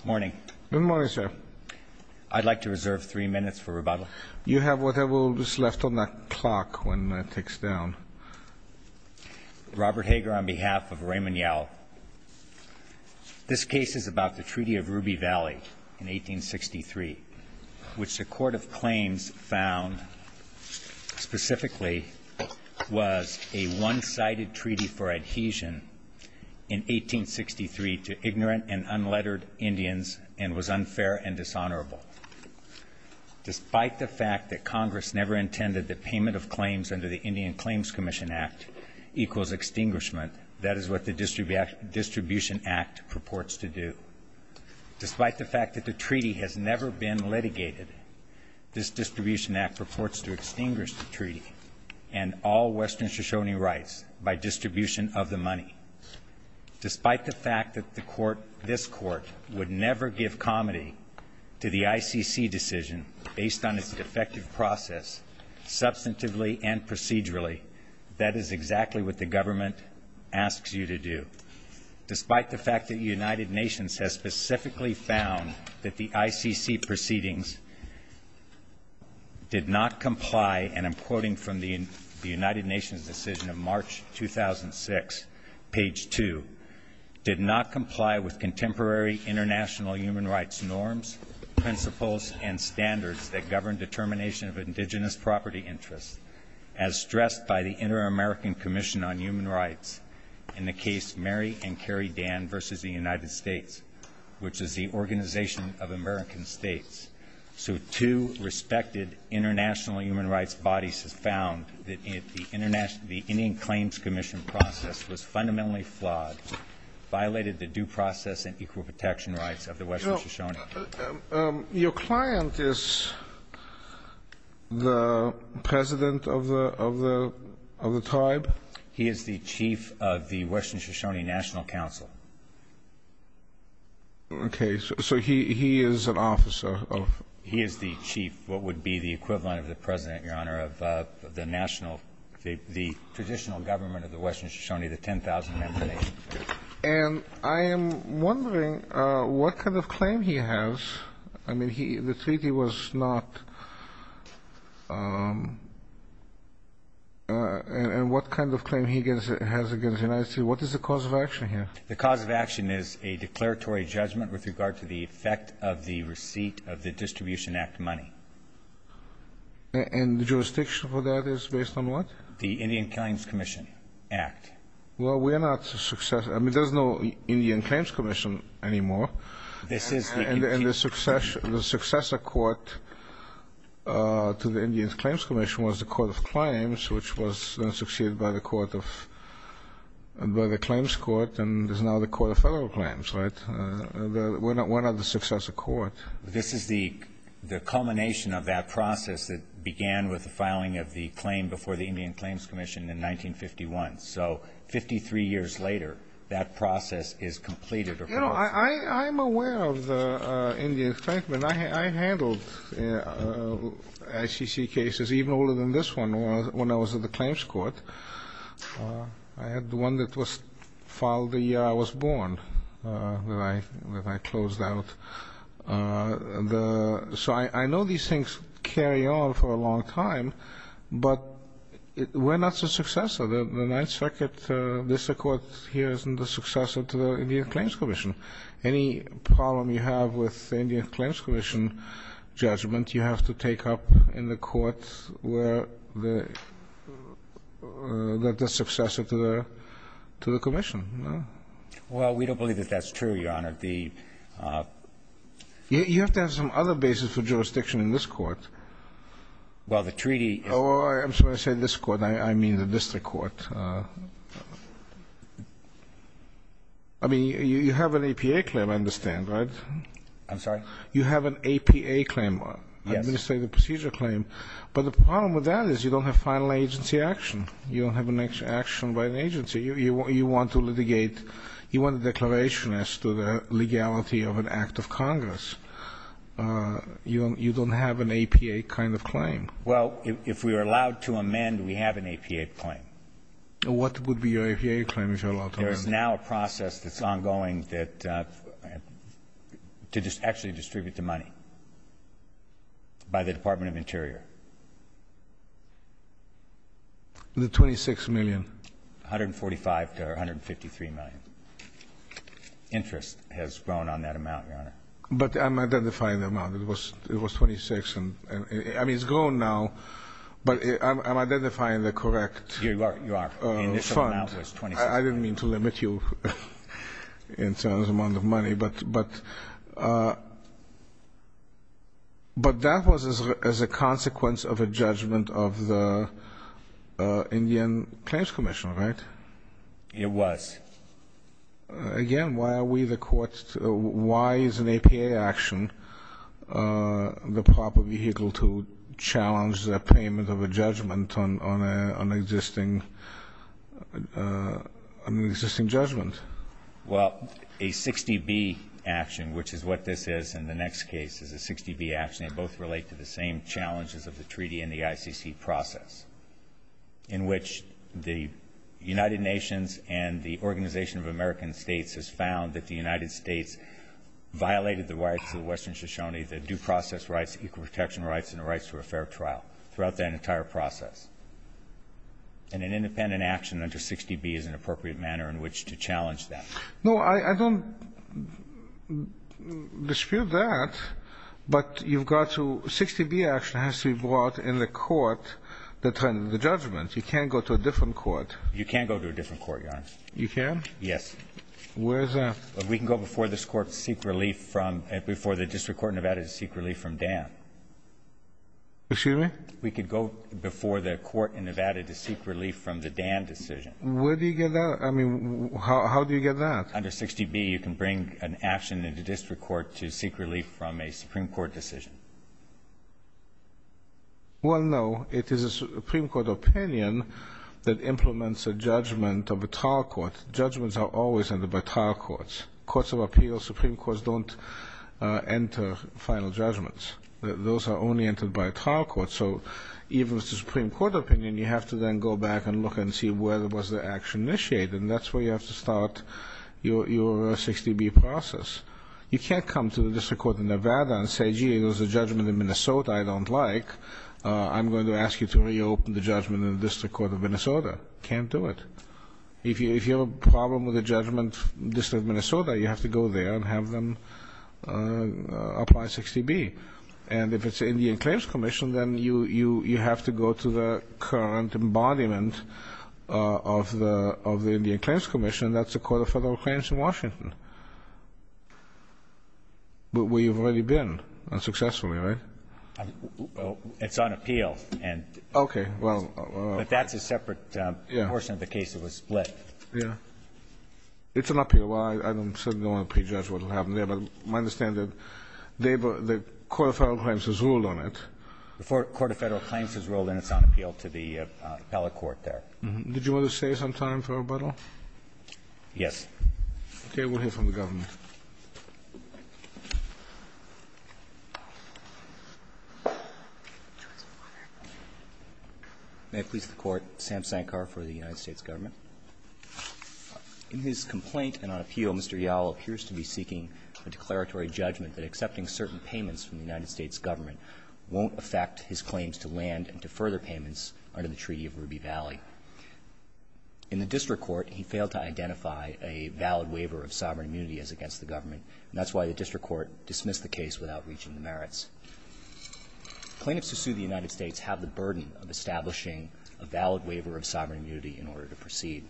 Good morning. Good morning, sir. I'd like to reserve three minutes for rebuttal. You may be seated. On behalf of Raymond Yowell, this case is about the Treaty of Ruby Valley in 1863, which the Court of Claims found specifically was a one-sided treaty for adhesion in 1863 to ignorant and unlettered Indians and was unfair and dishonorable. Despite the fact that Congress never intended that payment of claims under the Indian Claims Commission Act equals extinguishment, that is what the Distribution Act purports to do. Despite the fact that the treaty has never been litigated, this Distribution Act purports to extinguish the treaty and all Western Shoshone rights by distribution of the money. Despite the fact that this Court would never give comity to the ICC decision based on its defective process, substantively and procedurally, that is exactly what the government asks you to do. Despite the fact that the United Nations has specifically found that the ICC proceedings did not comply, and I'm quoting from the United Nations decision of March 2006, page two, did not comply with contemporary international human rights norms, principles, and standards that govern determination of indigenous property interests, as stressed by the Inter-American Commission on Human Rights in the case Mary and Kerry Dan v. The United States, which is the Organization of American States. So two respected international human rights bodies have found that the Indian Claims Commission process was fundamentally flawed, violated the due process and equal protection rights of the Western Shoshone. Your client is the President of the tribe? He is the Chief of the Western Shoshone National Council. Okay. So he is an officer of? He is the chief, what would be the equivalent of the President, Your Honor, of the national, the traditional government of the Western Shoshone, the 10,000-member nation. And I am wondering what kind of claim he has. I mean, the treaty was not, and what kind of claim he has against the United States. What is the cause of action here? The cause of action is a declaratory judgment with regard to the effect of the receipt of the Distribution Act money. And the jurisdiction for that is based on what? The Indian Claims Commission Act. Well, we are not a successor. I mean, there is no Indian Claims Commission anymore. This is the... And the successor court to the Indian Claims Commission was the Court of Claims, which was then succeeded by the Court of, by the Claims Court and is now the Court of Federal Claims, right? We are not the successor court. This is the culmination of that process that began with the filing of the claim before the Indian Claims Commission in 1951. So, 53 years later, that process is completed or proposed. You know, I am aware of the Indian Claims, but I handled ICC cases even older than this one when I was at the Claims Court. I had the one that was filed the year I was born, that I closed out. So, I know these things carry on for a long time, but we are not the successor. The Ninth Circuit, this court here is not the successor to the Indian Claims Commission. Any problem you have with the Indian Claims Commission judgment, you have to take up in the court where the, that the successor to the, to the commission. No? Well, we don't believe that that's true, Your Honor. The You have to have some other basis for jurisdiction in this court. Well, the treaty Oh, I'm sorry. I said this court. I mean the district court. I mean, you have an APA claim, I understand, right? I'm sorry? You have an APA claim. Yes. Administrative procedure claim. But the problem with that is you don't have final agency action. You don't have an action by an agency. You want to litigate, you want a declaration as to the legality of an act of Congress. You don't have an APA kind of claim. Well, if we are allowed to amend, we have an APA claim. What would be your APA claim if you're allowed to amend? There is now a process that's ongoing that, to actually distribute the money by the Department of Interior. The $26 million? $145 to $153 million. Interest has grown on that amount, Your Honor. But I'm identifying the amount. It was $26 million. I mean, it's grown now, but I'm identifying the correct fund. You are. The initial amount was $26 million. I didn't mean to limit you in terms of the amount of money. But that was as a case of the consequence of a judgment of the Indian Claims Commission, right? It was. Again, why are we the courts to why is an APA action the proper vehicle to challenge the payment of a judgment on an existing judgment? Well, a 60B action, which is what this is in the next case, is a 60B action. They both relate to the same challenges of the treaty and the ICC process, in which the United Nations and the Organization of American States has found that the United States violated the rights of Western Shoshone, the due process rights, equal protection rights, and the rights to a fair trial, throughout that entire process. And an independent action under 60B is an appropriate manner in which to challenge that. No, I don't dispute that. But you've got to 60B action has to be brought in the court that's under the judgment. You can't go to a different court. You can't go to a different court, Your Honor. You can? Yes. Where is that? We can go before this court to seek relief from, before the District Court of Nevada to seek relief from Dan. Excuse me? We could go before the court in Nevada to seek relief from the Dan decision. Where do you get that? I mean, how do you get that? Under 60B, you can bring an action into District Court to seek relief from a Supreme Court decision. Well, no. It is a Supreme Court opinion that implements a judgment of a trial court. Judgments are always entered by trial courts. Courts of Appeals, Supreme Courts, don't enter final judgments. Those are only entered by a trial court. So even if it's a Supreme Court opinion, you have to then go back and look and see where was the action initiated. And that's where you have to start your 60B process. You can't come to the District Court of Nevada and say, gee, there's a judgment in Minnesota I don't like. I'm going to ask you to reopen the judgment in the District Court of Minnesota. Can't do it. If you have a problem with a judgment in the District of Minnesota, you have to go there and have them apply 60B. And if it's Indian Claims Commission, then you have to go to the current embodiment of the Indian Claims Commission, and that's the Court of Federal Claims in Washington, where you've already been, unsuccessfully, right? It's on appeal, but that's a separate portion of the case that was split. It's on appeal. Well, I certainly don't want to prejudge what will happen there, but my point is that the Court of Federal Claims has rolled in its on appeal to the appellate court there. Did you want to save some time for rebuttal? Yes. Okay. We'll hear from the government. May it please the Court. Sam Sankar for the United States Government. In his complaint and on appeal, Mr. Yowell appears to be seeking a declaratory judgment that accepting certain payments from the United States Government won't affect his claims to land and to further payments under the Treaty of Ruby Valley. In the district court, he failed to identify a valid waiver of sovereign immunity as against the government, and that's why the district court dismissed the case without reaching the merits. Plaintiffs who sue the United States have the burden of establishing a valid waiver of sovereign immunity in order to proceed.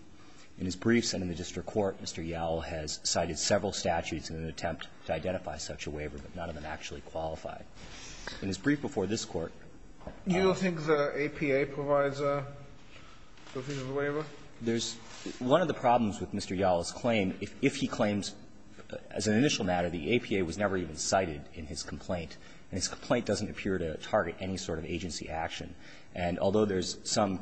In his briefs and in the district court, Mr. Yowell has cited several statutes in an attempt to identify such a waiver, but none of them actually qualify. In his brief before this Court, all of the cases that apply an APA waiver at least identify an agency action, and although there's some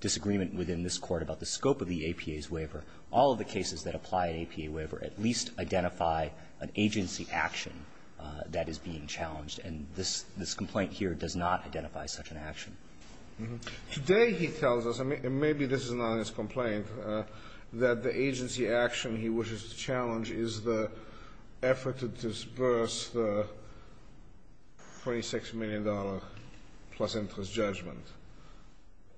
disagreement within this Court about the scope of the APA's waiver, all of the cases that apply an APA waiver at least identify an agency action, and none of them actually qualify. That is being challenged, and this complaint here does not identify such an action. Today, he tells us, and maybe this is not his complaint, that the agency action he wishes to challenge is the effort to disperse the $46 million plus interest judgment.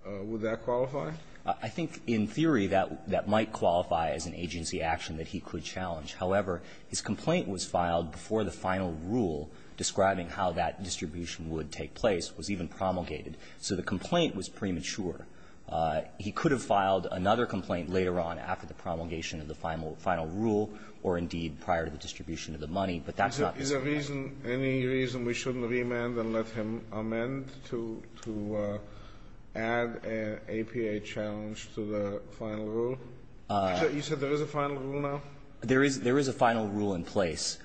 Would that qualify? I think, in theory, that might qualify as an agency action that he could challenge. However, his complaint was filed before the final rule describing how that distribution would take place was even promulgated. So the complaint was premature. He could have filed another complaint later on after the promulgation of the final rule or, indeed, prior to the distribution of the money, but that's not his complaint. Any reason we shouldn't remand and let him amend to add an APA challenge to the final rule? You said there is a final rule now? There is a final rule in place.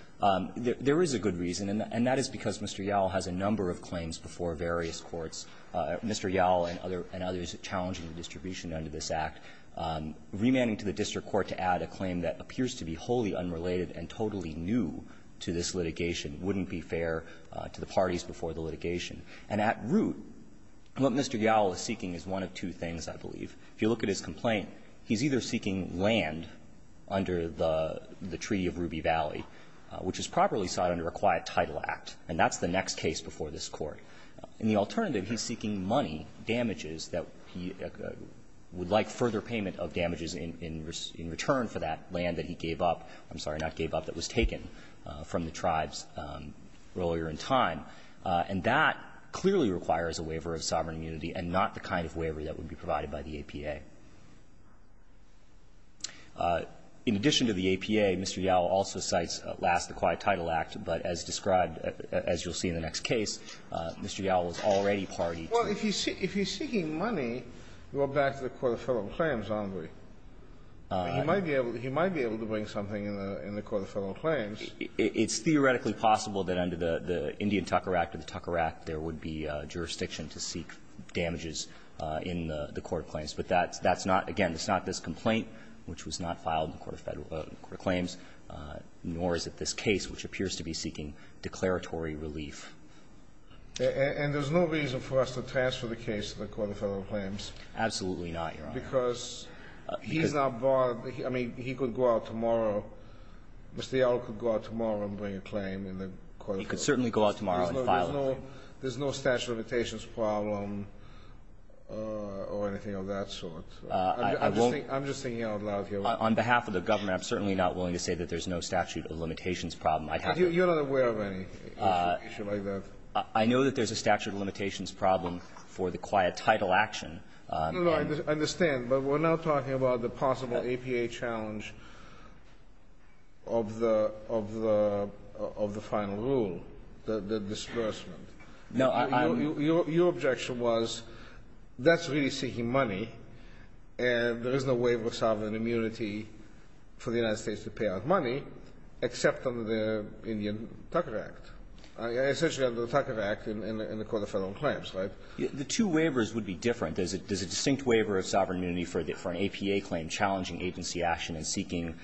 There is a good reason, and that is because Mr. Yowell has a number of claims before various courts. Mr. Yowell and others challenging the distribution under this Act, remanding to the district court to add a claim that appears to be wholly unrelated and totally new to this litigation wouldn't be fair to the parties before the litigation. And at root, what Mr. Yowell is seeking is one of two things, I believe. If you look at his complaint, he's either seeking land under the Treaty of Ruby Valley, which is properly sought under a quiet title act, and that's the next case before this Court. And the alternative, he's seeking money, damages that he would like further payment of damages in return for that land that he gave up – I'm sorry, not gave up, that was taken from the tribes earlier in time. And that clearly requires a waiver of sovereign immunity and not the kind of waiver that would be provided by the APA. In addition to the APA, Mr. Yowell also cites, at last, the quiet title act, but as described, as you'll see in the next case, Mr. Yowell is already party to it. Kennedy. Well, if he's seeking money, we're back to the Court of Federal Claims, aren't we? He might be able to bring something in the Court of Federal Claims. It's theoretically possible that under the Indian Tucker Act or the Tucker Act, there would be jurisdiction to seek damages in the Court of Claims. But that's not – again, it's not this complaint, which was not filed in the Court of Federal – in the Court of Claims, nor is it this case, which appears to be seeking declaratory relief. And there's no reason for us to transfer the case to the Court of Federal Claims? Absolutely not, Your Honor. Because he's not barred – I mean, he could go out tomorrow, Mr. Yowell could go out tomorrow and bring a claim in the Court of Federal Claims. He could certainly go out tomorrow and file a claim. There's no statute of limitations problem or anything of that sort? I won't – I'm just thinking out loud here. On behalf of the government, I'm certainly not willing to say that there's no statute of limitations problem. I have – You're not aware of any issue like that? I know that there's a statute of limitations problem for the quiet title action. No, no, I understand. But we're now talking about the possible APA challenge of the – of the final rule, the disbursement. No, I'm – Your objection was that's really seeking money, and there is no waiver of sovereign immunity for the United States to pay out money except under the Indian Tucker Act, essentially under the Tucker Act in the Court of Federal Claims, right? The two waivers would be different. There's a distinct waiver of sovereign immunity for an APA claim challenging agency action and seeking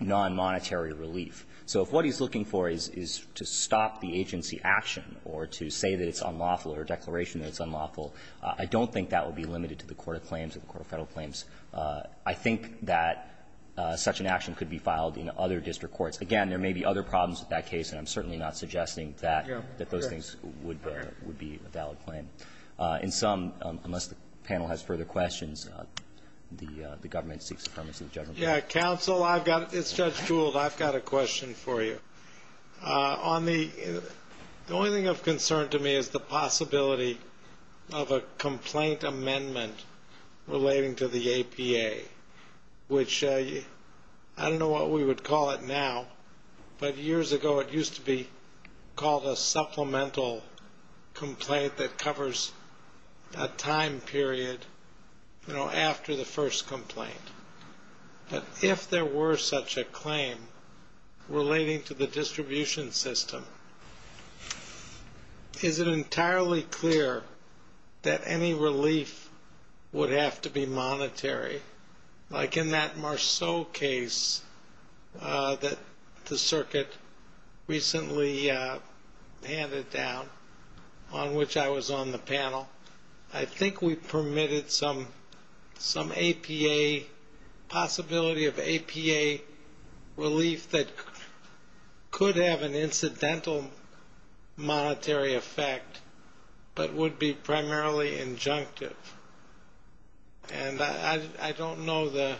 nonmonetary relief. So if what he's looking for is to stop the agency action or to say that it's unlawful or a declaration that it's unlawful, I don't think that would be limited to the Court of Claims or the Court of Federal Claims. I think that such an action could be filed in other district courts. Again, there may be other problems with that case, and I'm certainly not suggesting that those things would be a valid claim. In sum, unless the panel has further questions, the government seeks appropriateness of the General Counsel. Yeah, Counsel, it's Judge Gould. I've got a question for you. The only thing of concern to me is the possibility of a complaint amendment relating to the APA, which I don't know what we would call it now, but years ago it used to be called a supplemental complaint that covers a time period, you know, but if there were such a claim relating to the distribution system, is it entirely clear that any relief would have to be monetary, like in that Marceau case that the circuit recently handed down, on which I was on the panel? I think we permitted some APA, possibility of APA relief that could have an incidental monetary effect, but would be primarily injunctive. And I don't know the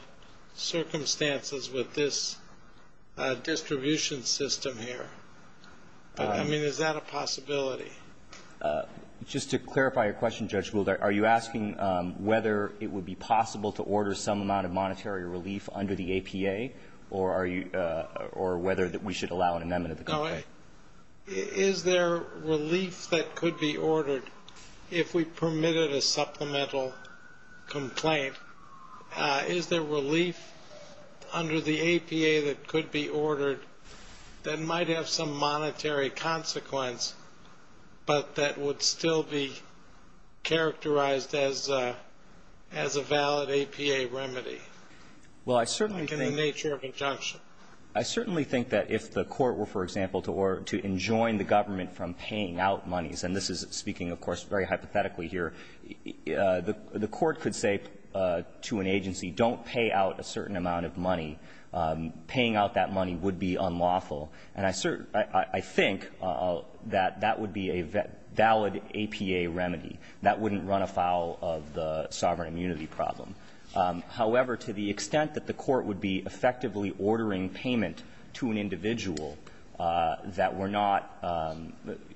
circumstances with this distribution system here, but I mean, is that a possibility? Just to clarify your question, Judge Gould, are you asking whether it would be possible to order some amount of monetary relief under the APA, or are you or whether that we should allow an amendment of the complaint? Is there relief that could be ordered if we permitted a supplemental complaint? Is there relief under the APA that could be ordered that might have some monetary consequence, but that would still be characterized as a valid APA remedy? Well, I certainly think. Like in the nature of injunction. I certainly think that if the court were, for example, to enjoin the government from paying out monies, and this is speaking, of course, very hypothetically here. The court could say to an agency, don't pay out a certain amount of money. Paying out that money would be unlawful. And I think that that would be a valid APA remedy. That wouldn't run afoul of the sovereign immunity problem. However, to the extent that the court would be effectively ordering payment to an individual that were not,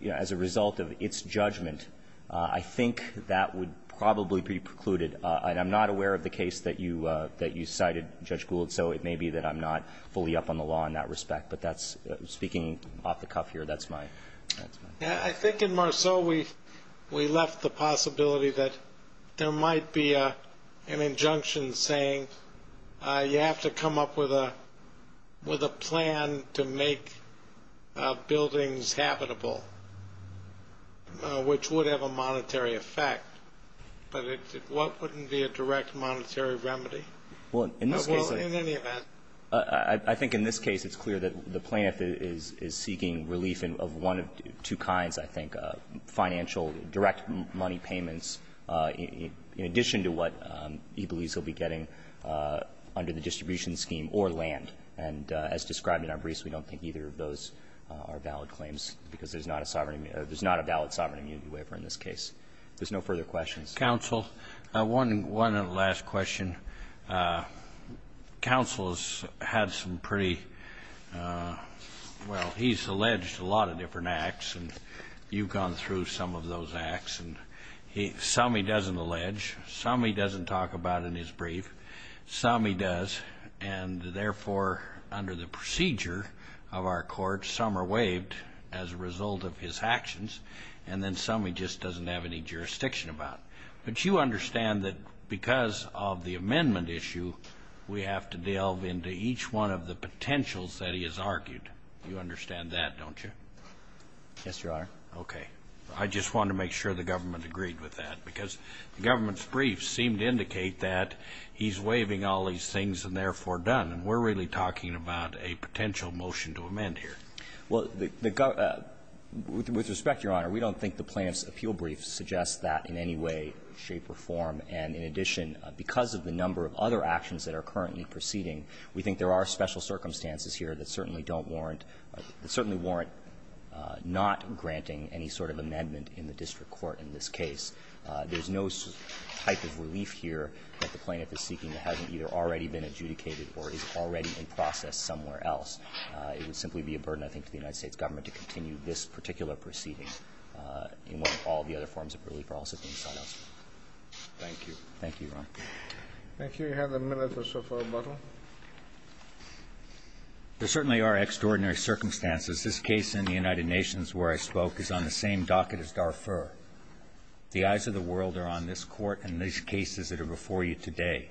you know, as a result of its judgment, I think that would probably be precluded. And I'm not aware of the case that you cited, Judge Gould, so it may be that I'm not fully up on the law in that respect. But that's speaking off the cuff here. That's my. I think in Marceau, we left the possibility that there might be an injunction saying you have to come up with a plan to make buildings habitable, which would have a monetary effect. But what wouldn't be a direct monetary remedy? Well, in this case, I think in this case, it's clear that the plaintiff is seeking relief of one of two kinds, I think, financial, direct money payments, in addition to what he believes he'll be getting under the distribution scheme or land. And as described in our briefs, we don't think either of those are valid claims because there's not a sovereign immunity or there's not a valid sovereign immunity waiver in this case. If there's no further questions. Counsel, one last question. Counsel has had some pretty, well, he's alleged a lot of different acts and you've gone through some of those acts and some he doesn't allege, some he doesn't talk about in his brief, some he does, and therefore under the procedure of our court, some are waived as a result of his actions and then some he just doesn't have any jurisdiction about. But you understand that because of the amendment issue, we have to delve into each one of the potentials that he has argued. You understand that, don't you? Yes, Your Honor. Okay. I just want to make sure the government agreed with that because the government's briefs seem to indicate that he's waiving all these things and therefore done. And we're really talking about a potential motion to amend here. Well, the government, with respect, Your Honor, we don't think the plaintiff's appeal brief suggests that in any way, shape, or form. And in addition, because of the number of other actions that are currently proceeding, we think there are special circumstances here that certainly don't warrant, that certainly warrant not granting any sort of amendment in the district court in this case. There's no type of relief here that the plaintiff is seeking that hasn't either already been adjudicated or is already in process somewhere else. It would simply be a burden, I think, to the United States government to continue this particular proceeding in what all the other forms of relief are also being sought elsewhere. Thank you. Thank you, Your Honor. Thank you. You have a minute or so for rebuttal. There certainly are extraordinary circumstances. This case in the United Nations where I spoke is on the same docket as Darfur. The eyes of the world are on this Court and these cases that are before you today.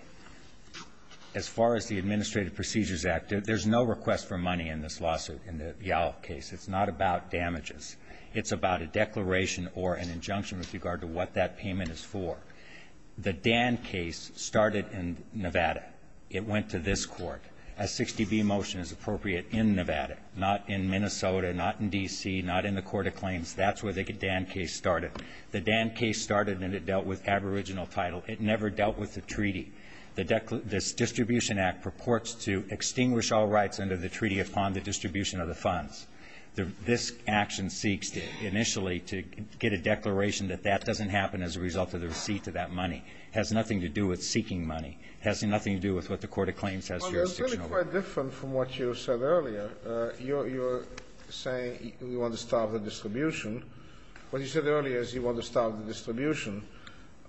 As far as the Administrative Procedures Act, there's no request for money in this lawsuit, in the Yall case. It's not about damages. It's about a declaration or an injunction with regard to what that payment is for. The Dan case started in Nevada. It went to this Court. A 60B motion is appropriate in Nevada, not in Minnesota, not in D.C., not in the Court of Claims. That's where the Dan case started. The Dan case started and it dealt with aboriginal title. It never dealt with the treaty. The declaration of this distribution act purports to extinguish all rights under the treaty upon the distribution of the funds. This action seeks initially to get a declaration that that doesn't happen as a result of the receipt of that money. It has nothing to do with seeking money. It has nothing to do with what the Court of Claims has jurisdiction over. Well, that's really quite different from what you said earlier. You're saying you want to stop the distribution. What you said earlier is you want to stop the distribution.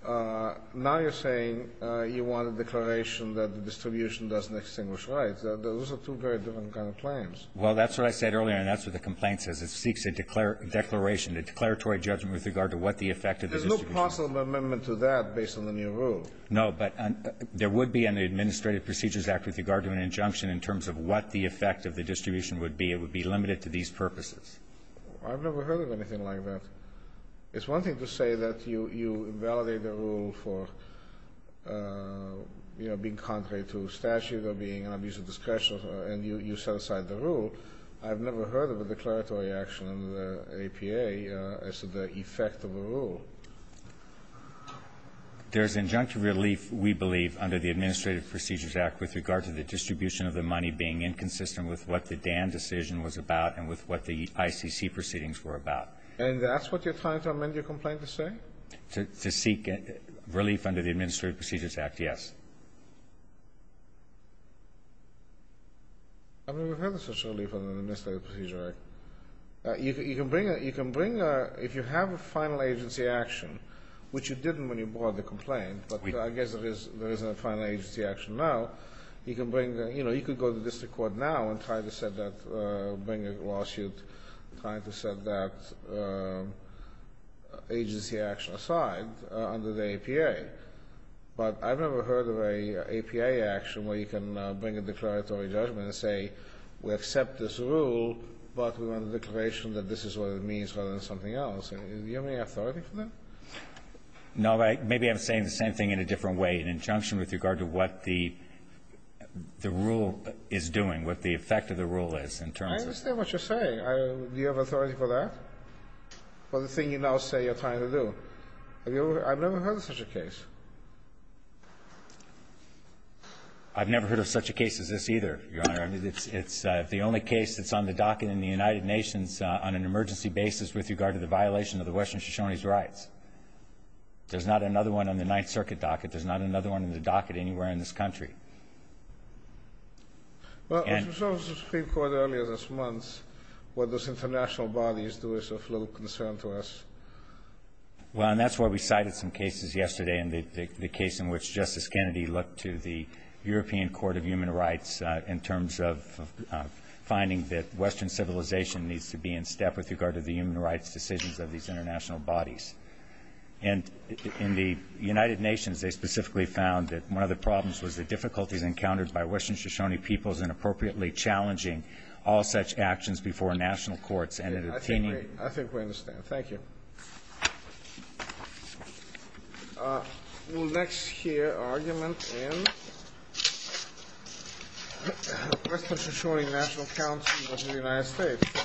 Now you're saying you want a declaration that the distribution doesn't extinguish rights. Those are two very different kind of claims. Well, that's what I said earlier and that's what the complaint says. It seeks a declaration, a declaratory judgment with regard to what the effect of the distribution is. There's no possible amendment to that based on the new rule. No, but there would be in the Administrative Procedures Act with regard to an injunction in terms of what the effect of the distribution would be. It would be limited to these purposes. I've never heard of anything like that. It's one thing to say that you invalidate the rule for, you know, being contrary to statute or being an abuse of discretion and you set aside the rule. I've never heard of a declaratory action under the APA as to the effect of a rule. There's injunctive relief, we believe, under the Administrative Procedures Act with regard to the distribution of the money being inconsistent with what the Dan decision was about and with what the ICC proceedings were about. And that's what you're trying to amend your complaint to say? To seek relief under the Administrative Procedures Act, yes. I've never heard of such a relief under the Administrative Procedures Act. You can bring a, if you have a final agency action, which you didn't when you brought the complaint, but I guess there isn't a final agency action now, you can bring, you know, you could go to the district court now and try to set that, bring a lawsuit, try to set that agency action aside under the APA. But I've never heard of a APA action where you can bring a declaratory judgment and say we accept this rule, but we want a declaration that this is what it means rather than something else. Do you have any authority for that? No, but maybe I'm saying the same thing in a different way, an injunction with regard to what the rule is doing, what the effect of the rule is in terms of the rule. I understand what you're saying. Do you have authority for that? For the thing you now say you're trying to do? I've never heard of such a case. I've never heard of such a case as this either, Your Honor. I mean, it's the only case that's on the docket in the United Nations on an emergency basis with regard to the violation of the Western Shoshone's rights. There's not another one on the Ninth Circuit docket. There's not another one in the docket anywhere in this country. Well, as we saw with the Supreme Court earlier this month, what those international bodies do is of little concern to us. Well, and that's why we cited some cases yesterday, and the case in which Justice Kennedy looked to the European Court of Human Rights in terms of finding that Western civilization needs to be in step with regard to the human rights decisions of these international bodies. And in the United Nations, they specifically found that one of the problems was the difficulties encountered by Western Shoshone peoples in appropriately challenging all such actions before national courts and in obtaining- I think we understand. Thank you. We will next hear an argument in the Western Shoshone National Council of the United States.